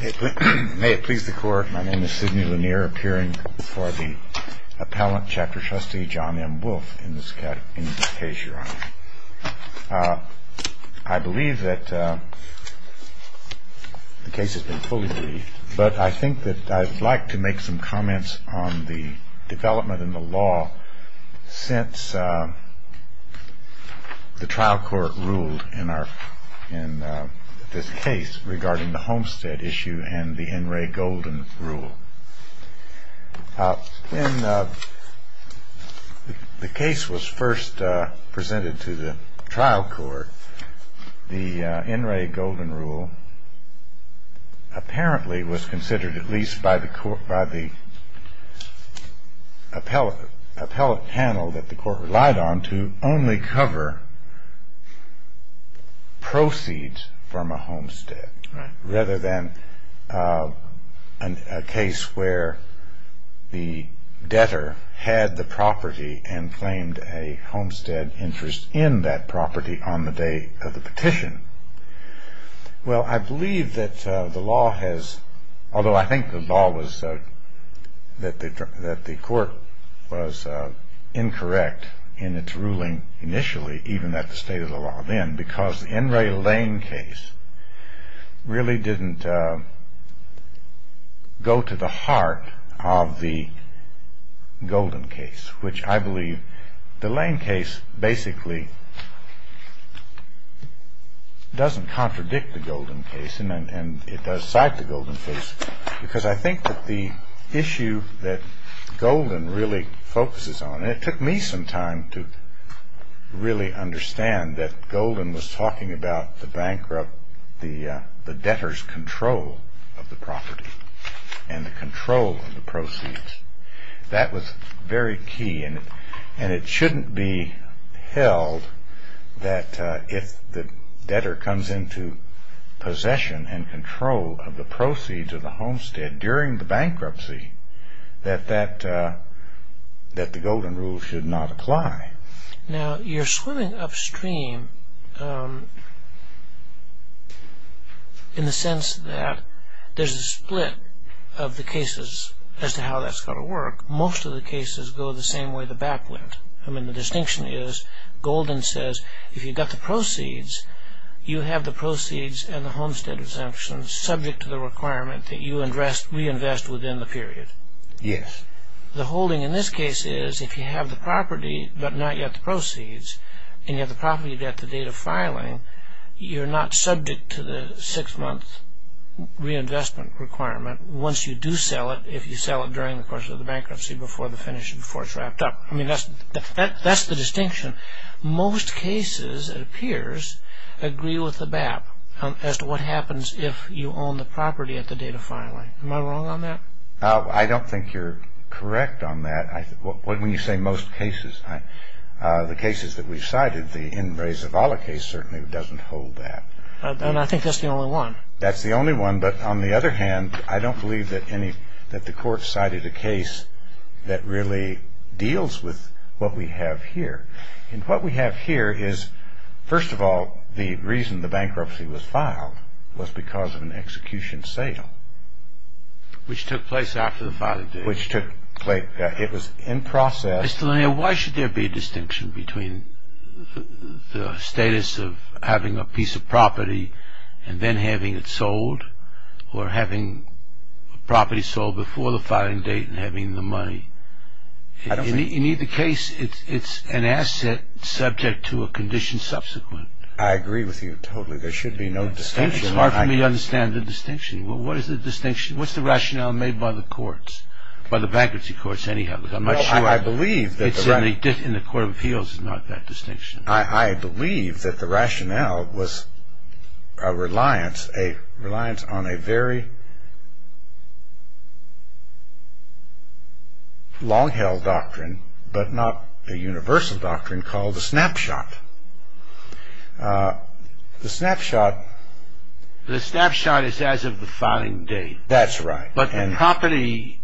May it please the Court, my name is Sidney Lanier, appearing before the Appellant Chapter Trustee, John M. Wolfe, in this case, Your Honor. I believe that the case has been fully briefed, but I think that I'd like to make some comments on the development in the law since the trial court ruled in this case regarding the Homestead issue and the N. Ray Golden Rule. The case was first presented to the trial court. The N. Ray Golden Rule apparently was considered, at least by the appellate panel that the court relied on, to only cover proceeds from a homestead, rather than a case where the debtor had the property and claimed a homestead interest in that property on the day of the petition. Well, I believe that the court was incorrect in its ruling initially, even at the state of the law then, because the N. Ray Lane case really didn't go to the heart of the Golden case, which I believe the Lane case basically doesn't contradict the Golden case, and it does cite the Golden case, because I think that the issue that Golden really focuses on, and it took me some time to really understand that Golden was talking about the debtor's control of the property and the control of the proceeds. That was very key, and it shouldn't be held that if the debtor comes into possession and control of the proceeds of the homestead during the bankruptcy, that the Golden Rule should not apply. Now, you're swimming upstream in the sense that there's a split of the cases as to how that's going to work. Most of the cases go the same way the back went. I mean, the distinction is, Golden says, if you've got the proceeds, you have the proceeds and the homestead exemptions subject to the requirement that you reinvest within the period. Yes. The holding in this case is, if you have the property but not yet the proceeds, and you have the property at the date of filing, you're not subject to the six-month reinvestment requirement once you do sell it, if you sell it during the course of the bankruptcy before the finish, before it's wrapped up. I mean, that's the distinction. Most cases, it appears, agree with the BAP as to what happens if you own the property at the date of filing. Am I wrong on that? I don't think you're correct on that. When you say most cases, the cases that we've cited, the In Re Zavala case certainly doesn't hold that. And I think that's the only one. That's the only one, but on the other hand, I don't believe that the court cited a case that really deals with what we have here. And what we have here is, first of all, the reason the bankruptcy was filed was because of an execution sale. Which took place after the filing date. Which took place. It was in process. Mr. Lanier, why should there be a distinction between the status of having a piece of property and then having it sold, or having a property sold before the filing date and having the money? In either case, it's an asset subject to a condition subsequent. I agree with you totally. There should be no distinction. It's hard for me to understand the distinction. What is the distinction? What's the rationale made by the courts? By the bankruptcy courts, anyhow. I'm not sure. It's in the court of appeals, it's not that distinction. I believe that the rationale was a reliance on a very long-held doctrine, but not a universal doctrine, called the snapshot. The snapshot... The snapshot is as of the filing date. That's right. But the property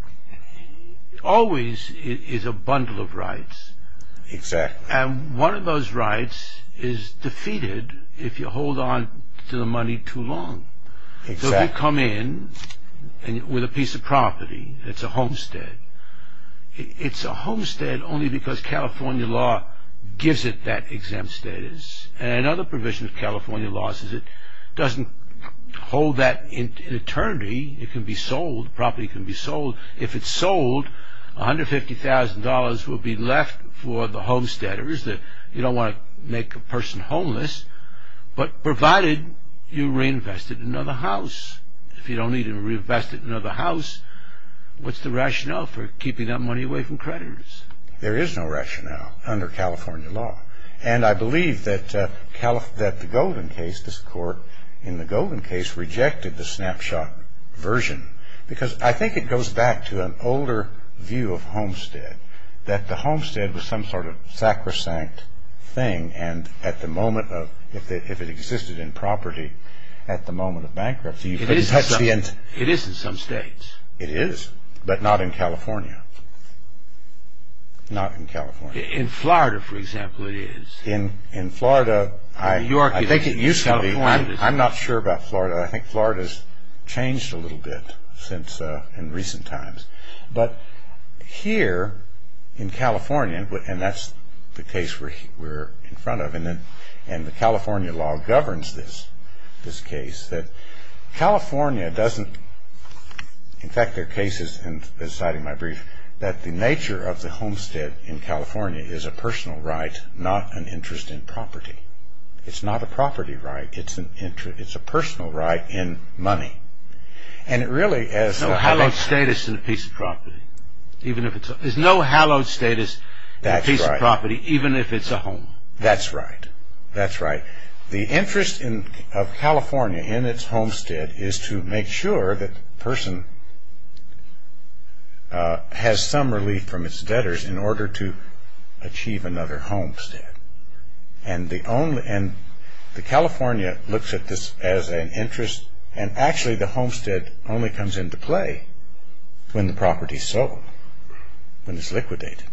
always is a bundle of rights. Exactly. And one of those rights is defeated if you hold on to the money too long. Exactly. So if you come in with a piece of property that's a homestead, it's a homestead only because California law gives it that exempt status. And another provision of California law says it doesn't hold that in eternity. It can be sold, the property can be sold. If it's sold, $150,000 will be left for the homesteaders. You don't want to make a person homeless, but provided you reinvest it in another house. If you don't need to reinvest it in another house, what's the rationale for keeping that money away from creditors? There is no rationale under California law. And I believe that the Golden case, this court in the Golden case, rejected the snapshot version because I think it goes back to an older view of homestead, that the homestead was some sort of sacrosanct thing, and if it existed in property at the moment of bankruptcy, you couldn't touch the end. It is in some states. It is, but not in California. Not in California. In Florida, for example, it is. In Florida, I think it used to be. I'm not sure about Florida. I think Florida's changed a little bit in recent times. But here in California, and that's the case we're in front of, and the California law governs this case, that California doesn't, in fact there are cases, and I've been citing my brief, that the nature of the homestead in California is a personal right, not an interest in property. It's not a property right. It's a personal right in money. No hallowed status in a piece of property. There's no hallowed status in a piece of property, even if it's a home. That's right. The interest of California in its homestead is to make sure that the person has some relief from its debtors in order to achieve another homestead. And the California looks at this as an interest, and actually the homestead only comes into play when the property's sold, when it's liquidated.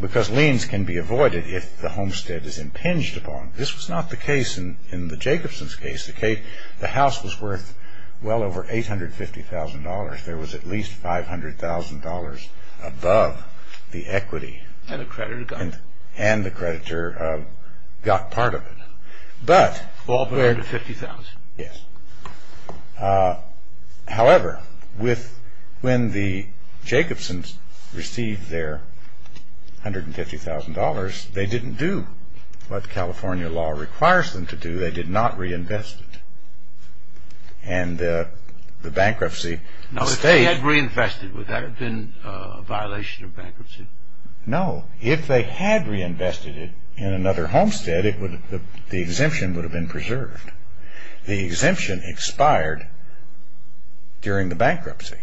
Because liens can be avoided if the homestead is impinged upon. This was not the case in the Jacobson's case. The house was worth well over $850,000. There was at least $500,000 above the equity. And the creditor got it. And the creditor got part of it. All but $150,000. Yes. However, when the Jacobsons received their $150,000, they didn't do what California law requires them to do. They did not reinvest it. And the bankruptcy stayed. Now if they had reinvested, would that have been a violation of bankruptcy? No. If they had reinvested it in another homestead, the exemption would have been preserved. The exemption expired during the bankruptcy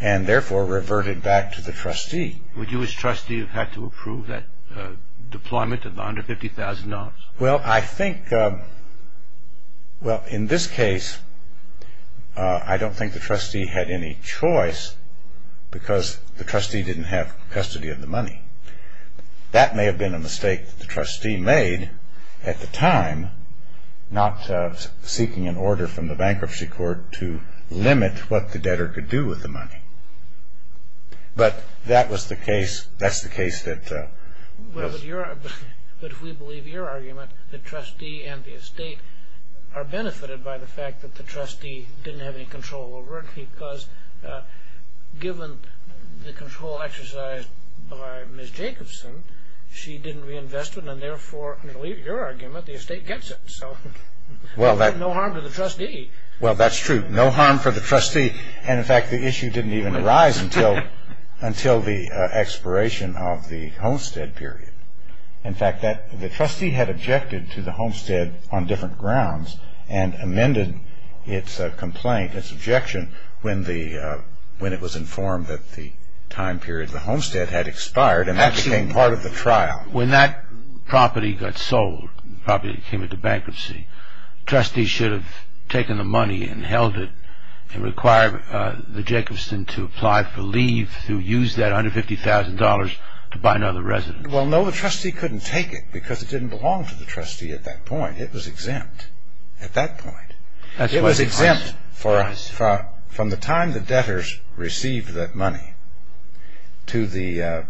and therefore reverted back to the trustee. Would you as trustee have had to approve that deployment of the $150,000? Well, I think, well, in this case, I don't think the trustee had any choice because the trustee didn't have custody of the money. That may have been a mistake that the trustee made at the time, not seeking an order from the bankruptcy court to limit what the debtor could do with the money. But that was the case. That's the case that was. But if we believe your argument, the trustee and the estate are benefited by the fact that the trustee didn't have any control over it because given the control exercised by Ms. Jacobson, she didn't reinvest it and therefore, in your argument, the estate gets it. So no harm to the trustee. Well, that's true. No harm for the trustee. And in fact, the issue didn't even arise until the expiration of the homestead period. In fact, the trustee had objected to the homestead on different grounds and amended its complaint, its objection, when it was informed that the time period of the homestead had expired, and that became part of the trial. When that property got sold, the property that came into bankruptcy, the trustee should have taken the money and held it and required the Jacobson to apply for leave to use that $150,000 to buy another residence. Well, no, the trustee couldn't take it because it didn't belong to the trustee at that point. It was exempt at that point. It was exempt from the time the debtors received that money to the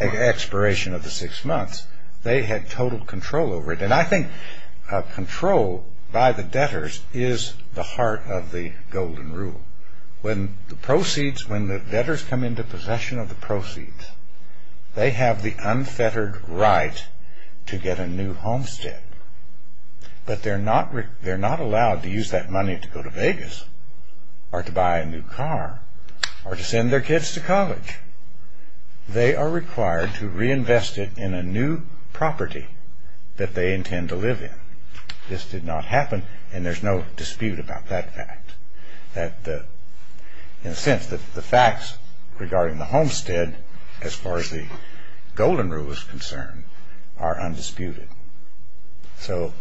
expiration of the six months. They had total control over it. And I think control by the debtors is the heart of the golden rule. When the proceeds, when the debtors come into possession of the proceeds, they have the unfettered right to get a new homestead. But they're not allowed to use that money to go to Vegas or to buy a new car or to send their kids to college. They are required to reinvest it in a new property that they intend to live in. This did not happen, and there's no dispute about that fact. In a sense, the facts regarding the homestead, as far as the golden rule is concerned, are undisputed. So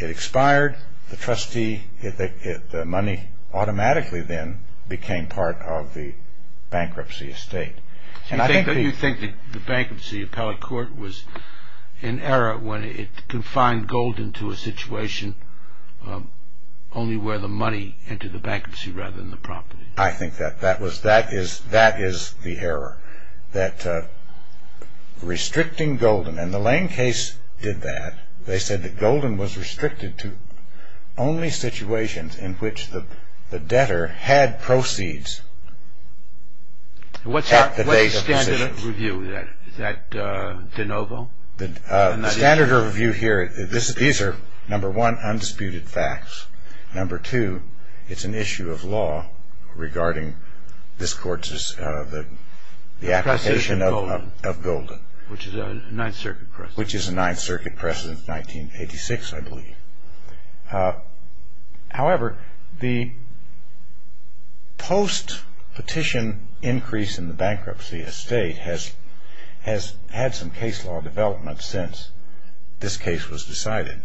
it expired. The trustee, the money automatically then became part of the bankruptcy estate. You think the bankruptcy appellate court was an era when it confined gold into a situation only where the money entered the bankruptcy rather than the property? I think that that is the error. That restricting golden, and the Lane case did that. They said that golden was restricted to only situations in which the debtor had proceeds at the date of possession. What's the standard of review? Is that de novo? The standard of review here, these are, number one, undisputed facts. Number two, it's an issue of law regarding this court's application of golden. Which is a Ninth Circuit precedent. Which is a Ninth Circuit precedent, 1986, I believe. However, the post-petition increase in the bankruptcy estate has had some case law development since this case was decided.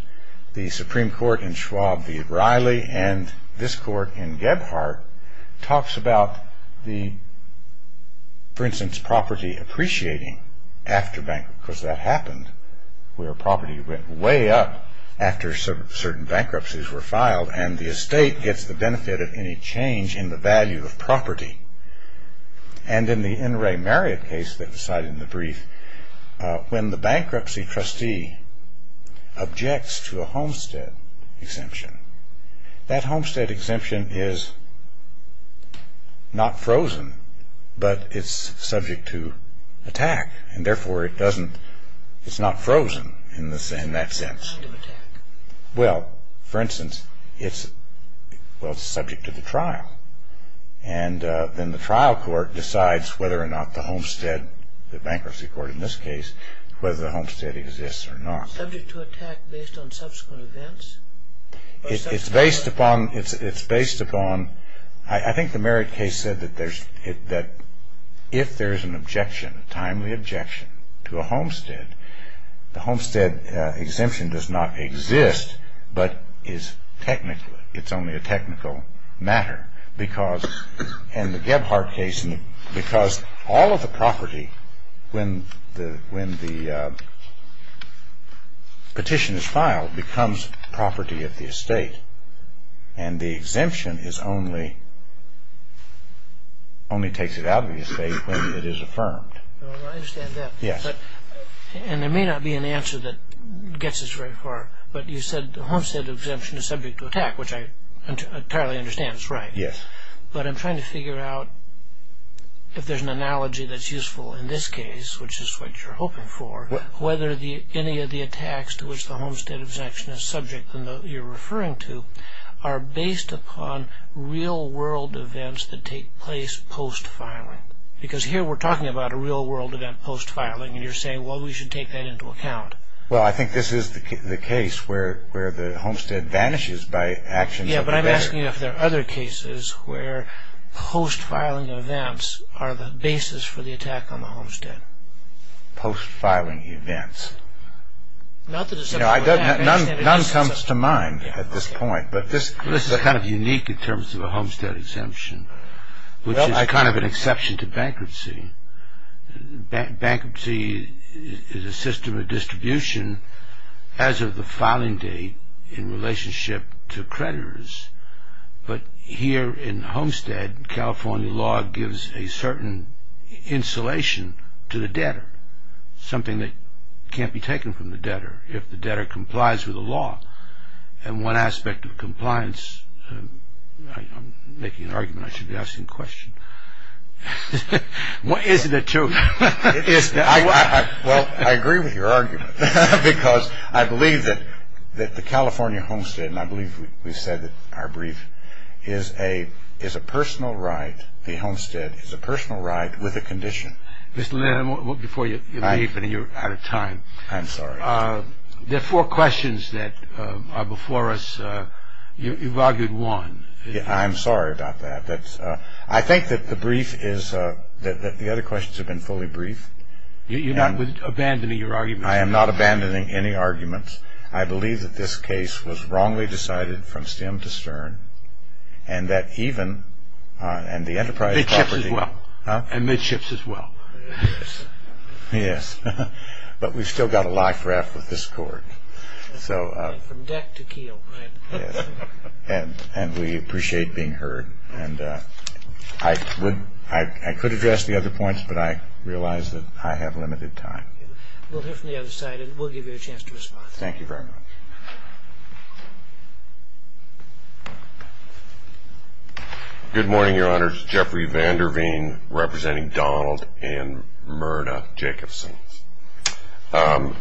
The Supreme Court in Schwab v. O'Reilly and this court in Gebhardt talks about the, for instance, property appreciating after bankruptcy. Because that happened where property went way up after certain bankruptcies were filed and the estate gets the benefit of any change in the value of property. And in the N. Ray Marriott case that was cited in the brief, when the bankruptcy trustee objects to a homestead exemption, that homestead exemption is not frozen but it's subject to attack. And therefore it doesn't, it's not frozen in that sense. Not to attack. Well, for instance, it's, well, it's subject to the trial. And then the trial court decides whether or not the homestead, the bankruptcy court in this case, whether the homestead exists or not. Subject to attack based on subsequent events? It's based upon, it's based upon, I think the Marriott case said that there's, that if there's an objection, a timely objection to a homestead, the homestead exemption does not exist but is technically, it's only a technical matter. Because in the Gebhardt case, because all of the property, when the petition is filed, becomes property of the estate. And the exemption is only, only takes it out of the estate when it is affirmed. I understand that. Yes. And there may not be an answer that gets us very far. But you said the homestead exemption is subject to attack, which I entirely understand is right. Yes. But I'm trying to figure out if there's an analogy that's useful in this case, which is what you're hoping for, whether any of the attacks to which the homestead exemption is subject, and that you're referring to, are based upon real-world events that take place post-filing. Because here we're talking about a real-world event post-filing, and you're saying, well, we should take that into account. Well, I think this is the case where the homestead vanishes by action. Yes, but I'm asking if there are other cases where post-filing events are the basis for the attack on the homestead. Post-filing events. None comes to mind at this point. This is kind of unique in terms of a homestead exemption, which is kind of an exception to bankruptcy. Bankruptcy is a system of distribution as of the filing date in relationship to creditors. But here in the homestead, California law gives a certain insulation to the debtor, something that can't be taken from the debtor if the debtor complies with the law. And one aspect of compliance, I'm making an argument I should be asking a question. Is it a truth? Well, I agree with your argument, because I believe that the California homestead, and I believe we've said that our brief, is a personal right. The homestead is a personal right with a condition. Mr. Lynn, before you leave and you're out of time. I'm sorry. There are four questions that are before us. You've argued one. I'm sorry about that. I think that the brief is that the other questions have been fully briefed. You're not abandoning your argument. I am not abandoning any arguments. I believe that this case was wrongly decided from stem to stern, and that even, and the enterprise property. And midships as well. Yes. But we've still got a life raft with this court. From deck to keel. And we appreciate being heard. And I could address the other points, but I realize that I have limited time. We'll hear from the other side, and we'll give you a chance to respond. Thank you very much. Good morning, Your Honor. It's Jeffrey Vander Veen, representing Donald and Myrna Jacobson.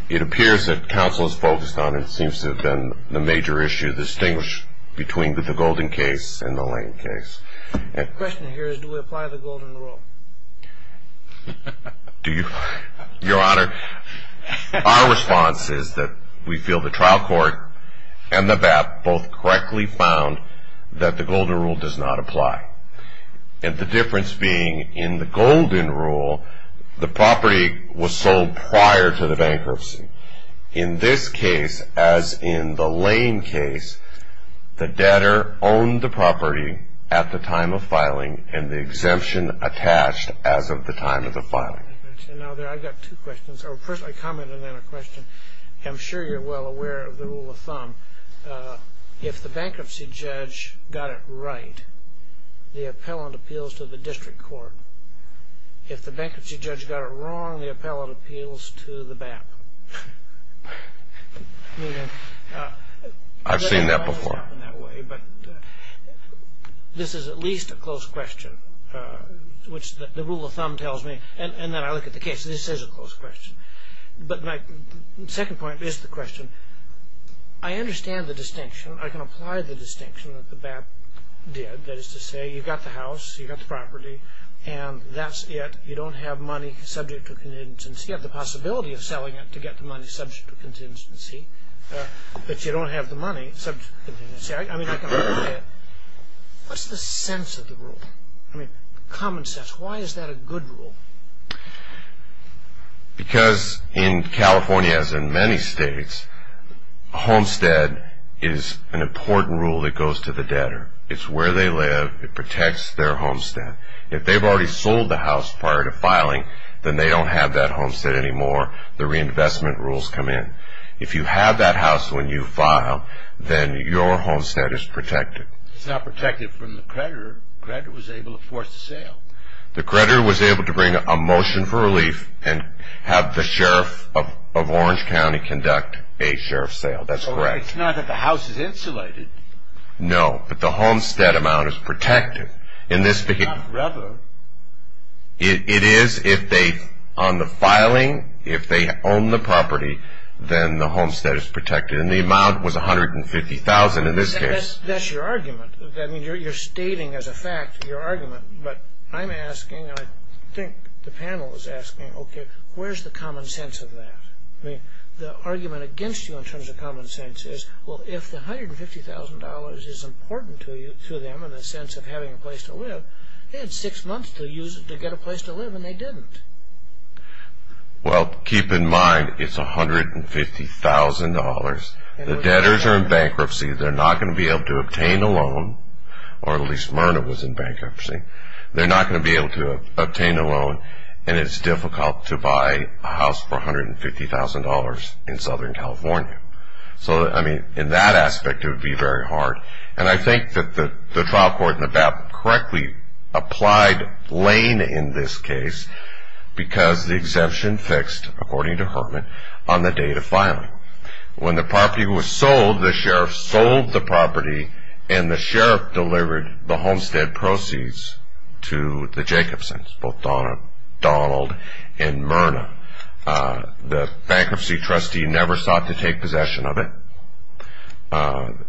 It appears that counsel is focused on, and it seems to have been the major issue to distinguish between the Golden case and the Lane case. The question here is, do we apply the Golden rule? Your Honor, our response is that we feel the trial court and the BAP both correctly found that the Golden rule does not apply. And the difference being, in the Golden rule, the property was sold prior to the bankruptcy. In this case, as in the Lane case, the debtor owned the property at the time of filing, and the exemption attached as of the time of the filing. I've got two questions. First, a comment and then a question. I'm sure you're well aware of the rule of thumb. If the bankruptcy judge got it right, the appellant appeals to the district court. If the bankruptcy judge got it wrong, the appellant appeals to the BAP. I've seen that before. This is at least a close question, which the rule of thumb tells me. And then I look at the case. This is a close question. But my second point is the question. I understand the distinction. I can apply the distinction that the BAP did. That is to say, you've got the house, you've got the property, and that's it. You don't have money subject to contingency. You have the possibility of selling it to get the money subject to contingency, but you don't have the money subject to contingency. I mean, I can apply it. What's the sense of the rule? I mean, common sense. Why is that a good rule? Because in California, as in many states, a homestead is an important rule that goes to the debtor. It's where they live. It protects their homestead. If they've already sold the house prior to filing, then they don't have that homestead anymore. The reinvestment rules come in. If you have that house when you file, then your homestead is protected. It's not protected from the creditor. The creditor was able to force the sale. The creditor was able to bring a motion for relief and have the sheriff of Orange County conduct a sheriff sale. That's correct. It's not that the house is insulated. No, but the homestead amount is protected. It's not forever. It is if they, on the filing, if they own the property, then the homestead is protected. And the amount was $150,000 in this case. That's your argument. I mean, you're stating as a fact your argument. But I'm asking, and I think the panel is asking, okay, where's the common sense of that? I mean, the argument against you in terms of common sense is, well, if the $150,000 is important to them in the sense of having a place to live, they had six months to get a place to live, and they didn't. Well, keep in mind it's $150,000. The debtors are in bankruptcy. They're not going to be able to obtain a loan, or at least Myrna was in bankruptcy. They're not going to be able to obtain a loan, and it's difficult to buy a house for $150,000 in Southern California. So, I mean, in that aspect it would be very hard. And I think that the trial court in Nevada correctly applied Lane in this case because the exemption fixed, according to Hurtman, on the date of filing. When the property was sold, the sheriff sold the property, and the sheriff delivered the homestead proceeds to the Jacobsons, both Donald and Myrna. The bankruptcy trustee never sought to take possession of it.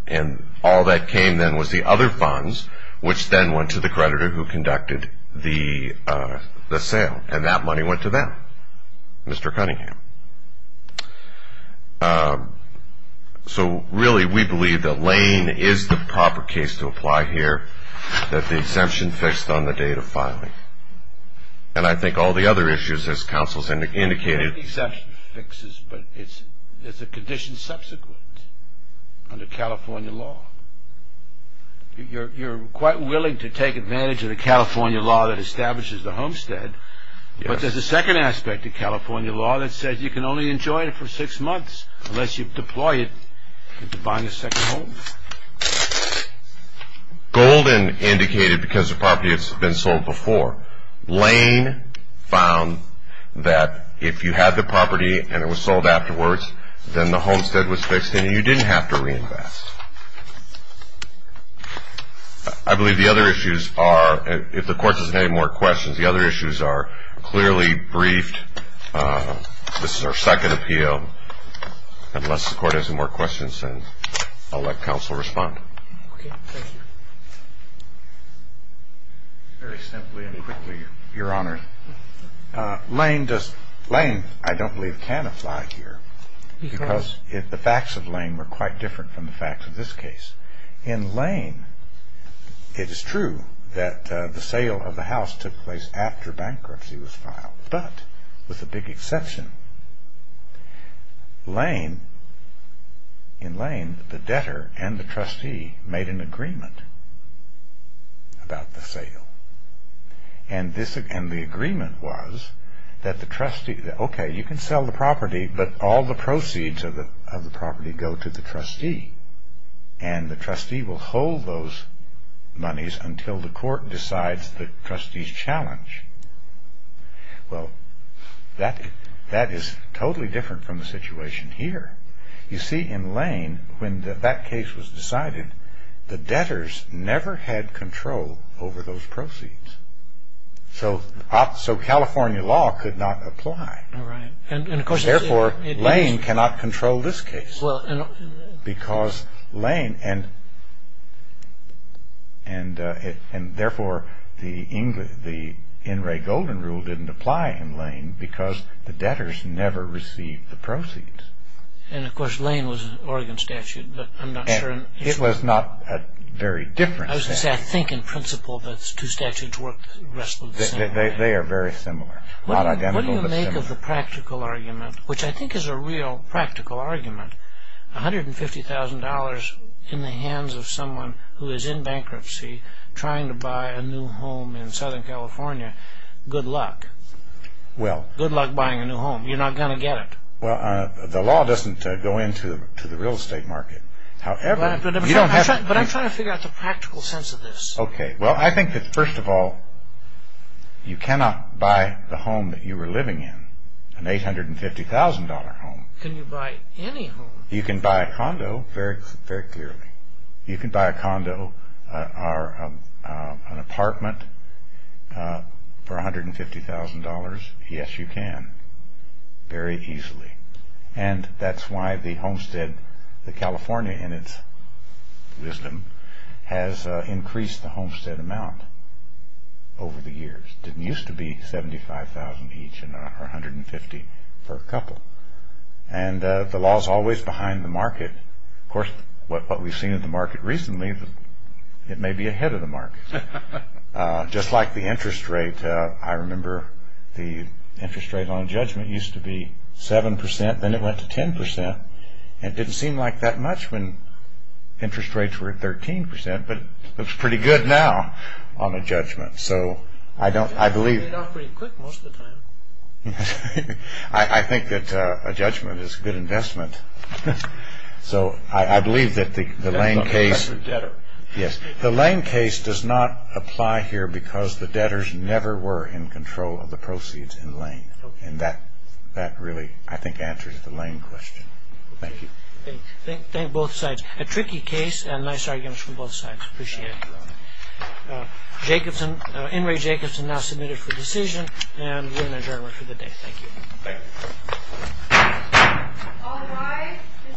And all that came then was the other funds, which then went to the creditor who conducted the sale, and that money went to them, Mr. Cunningham. So, really, we believe that Lane is the proper case to apply here, that the exemption fixed on the date of filing. And I think all the other issues, as counsel has indicated. The exemption fixes, but it's a condition subsequent under California law. You're quite willing to take advantage of the California law that establishes the homestead, but there's a second aspect to California law that says you can only enjoy it for six months unless you deploy it into buying a second home. Golden indicated because the property has been sold before. Lane found that if you had the property and it was sold afterwards, then the homestead was fixed and you didn't have to reinvest. I believe the other issues are, if the court doesn't have any more questions, the other issues are clearly briefed. This is our second appeal. Unless the court has any more questions, then I'll let counsel respond. Okay, thank you. Very simply and quickly, Your Honor. Lane, I don't believe, can apply here, because the facts of Lane were quite different from the facts of this case. In Lane, it is true that the sale of the house took place after bankruptcy was filed, but with a big exception. Lane, in Lane, the debtor and the trustee made an agreement about the sale, and the agreement was that the trustee, okay, you can sell the property, but all the proceeds of the property go to the trustee, and the trustee will hold those monies until the court decides the trustee's challenge. Well, that is totally different from the situation here. You see, in Lane, when that case was decided, the debtors never had control over those proceeds. So California law could not apply. Therefore, Lane cannot control this case, because Lane, and therefore the In re Golden Rule didn't apply in Lane, because the debtors never received the proceeds. And, of course, Lane was an Oregon statute, but I'm not sure. It was not a very different statute. I was going to say, I think, in principle, those two statutes work the rest of the same. They are very similar. Not identical, but similar. What do you make of the practical argument, which I think is a real practical argument, $150,000 in the hands of someone who is in bankruptcy, trying to buy a new home in Southern California, good luck. Well. Good luck buying a new home. You're not going to get it. Well, the law doesn't go into the real estate market. But I'm trying to figure out the practical sense of this. Okay. Well, I think that, first of all, you cannot buy the home that you were living in, an $850,000 home. Can you buy any home? You can buy a condo, very clearly. You can buy a condo or an apartment for $150,000. Yes, you can. Very easily. And that's why the homestead, the California in its wisdom, has increased the homestead amount over the years. It didn't used to be $75,000 each or $150,000 for a couple. And the law is always behind the market. Of course, what we've seen in the market recently, it may be ahead of the market. Just like the interest rate. I remember the interest rate on a judgment used to be 7%. Then it went to 10%. And it didn't seem like that much when interest rates were at 13%. But it looks pretty good now on a judgment. So I believe. It paid off pretty quick most of the time. I think that a judgment is a good investment. So I believe that the Lane case. Yes, the Lane case does not apply here because the debtors never were in control of the proceeds in Lane. And that really, I think, answers the Lane question. Thank you. Thank you, both sides. A tricky case and nice arguments from both sides. Appreciate it. Jacobson, In re Jacobson, now submitted for decision. And we're adjourned for the day. Thank you. Thank you. All rise. This court is adjourned.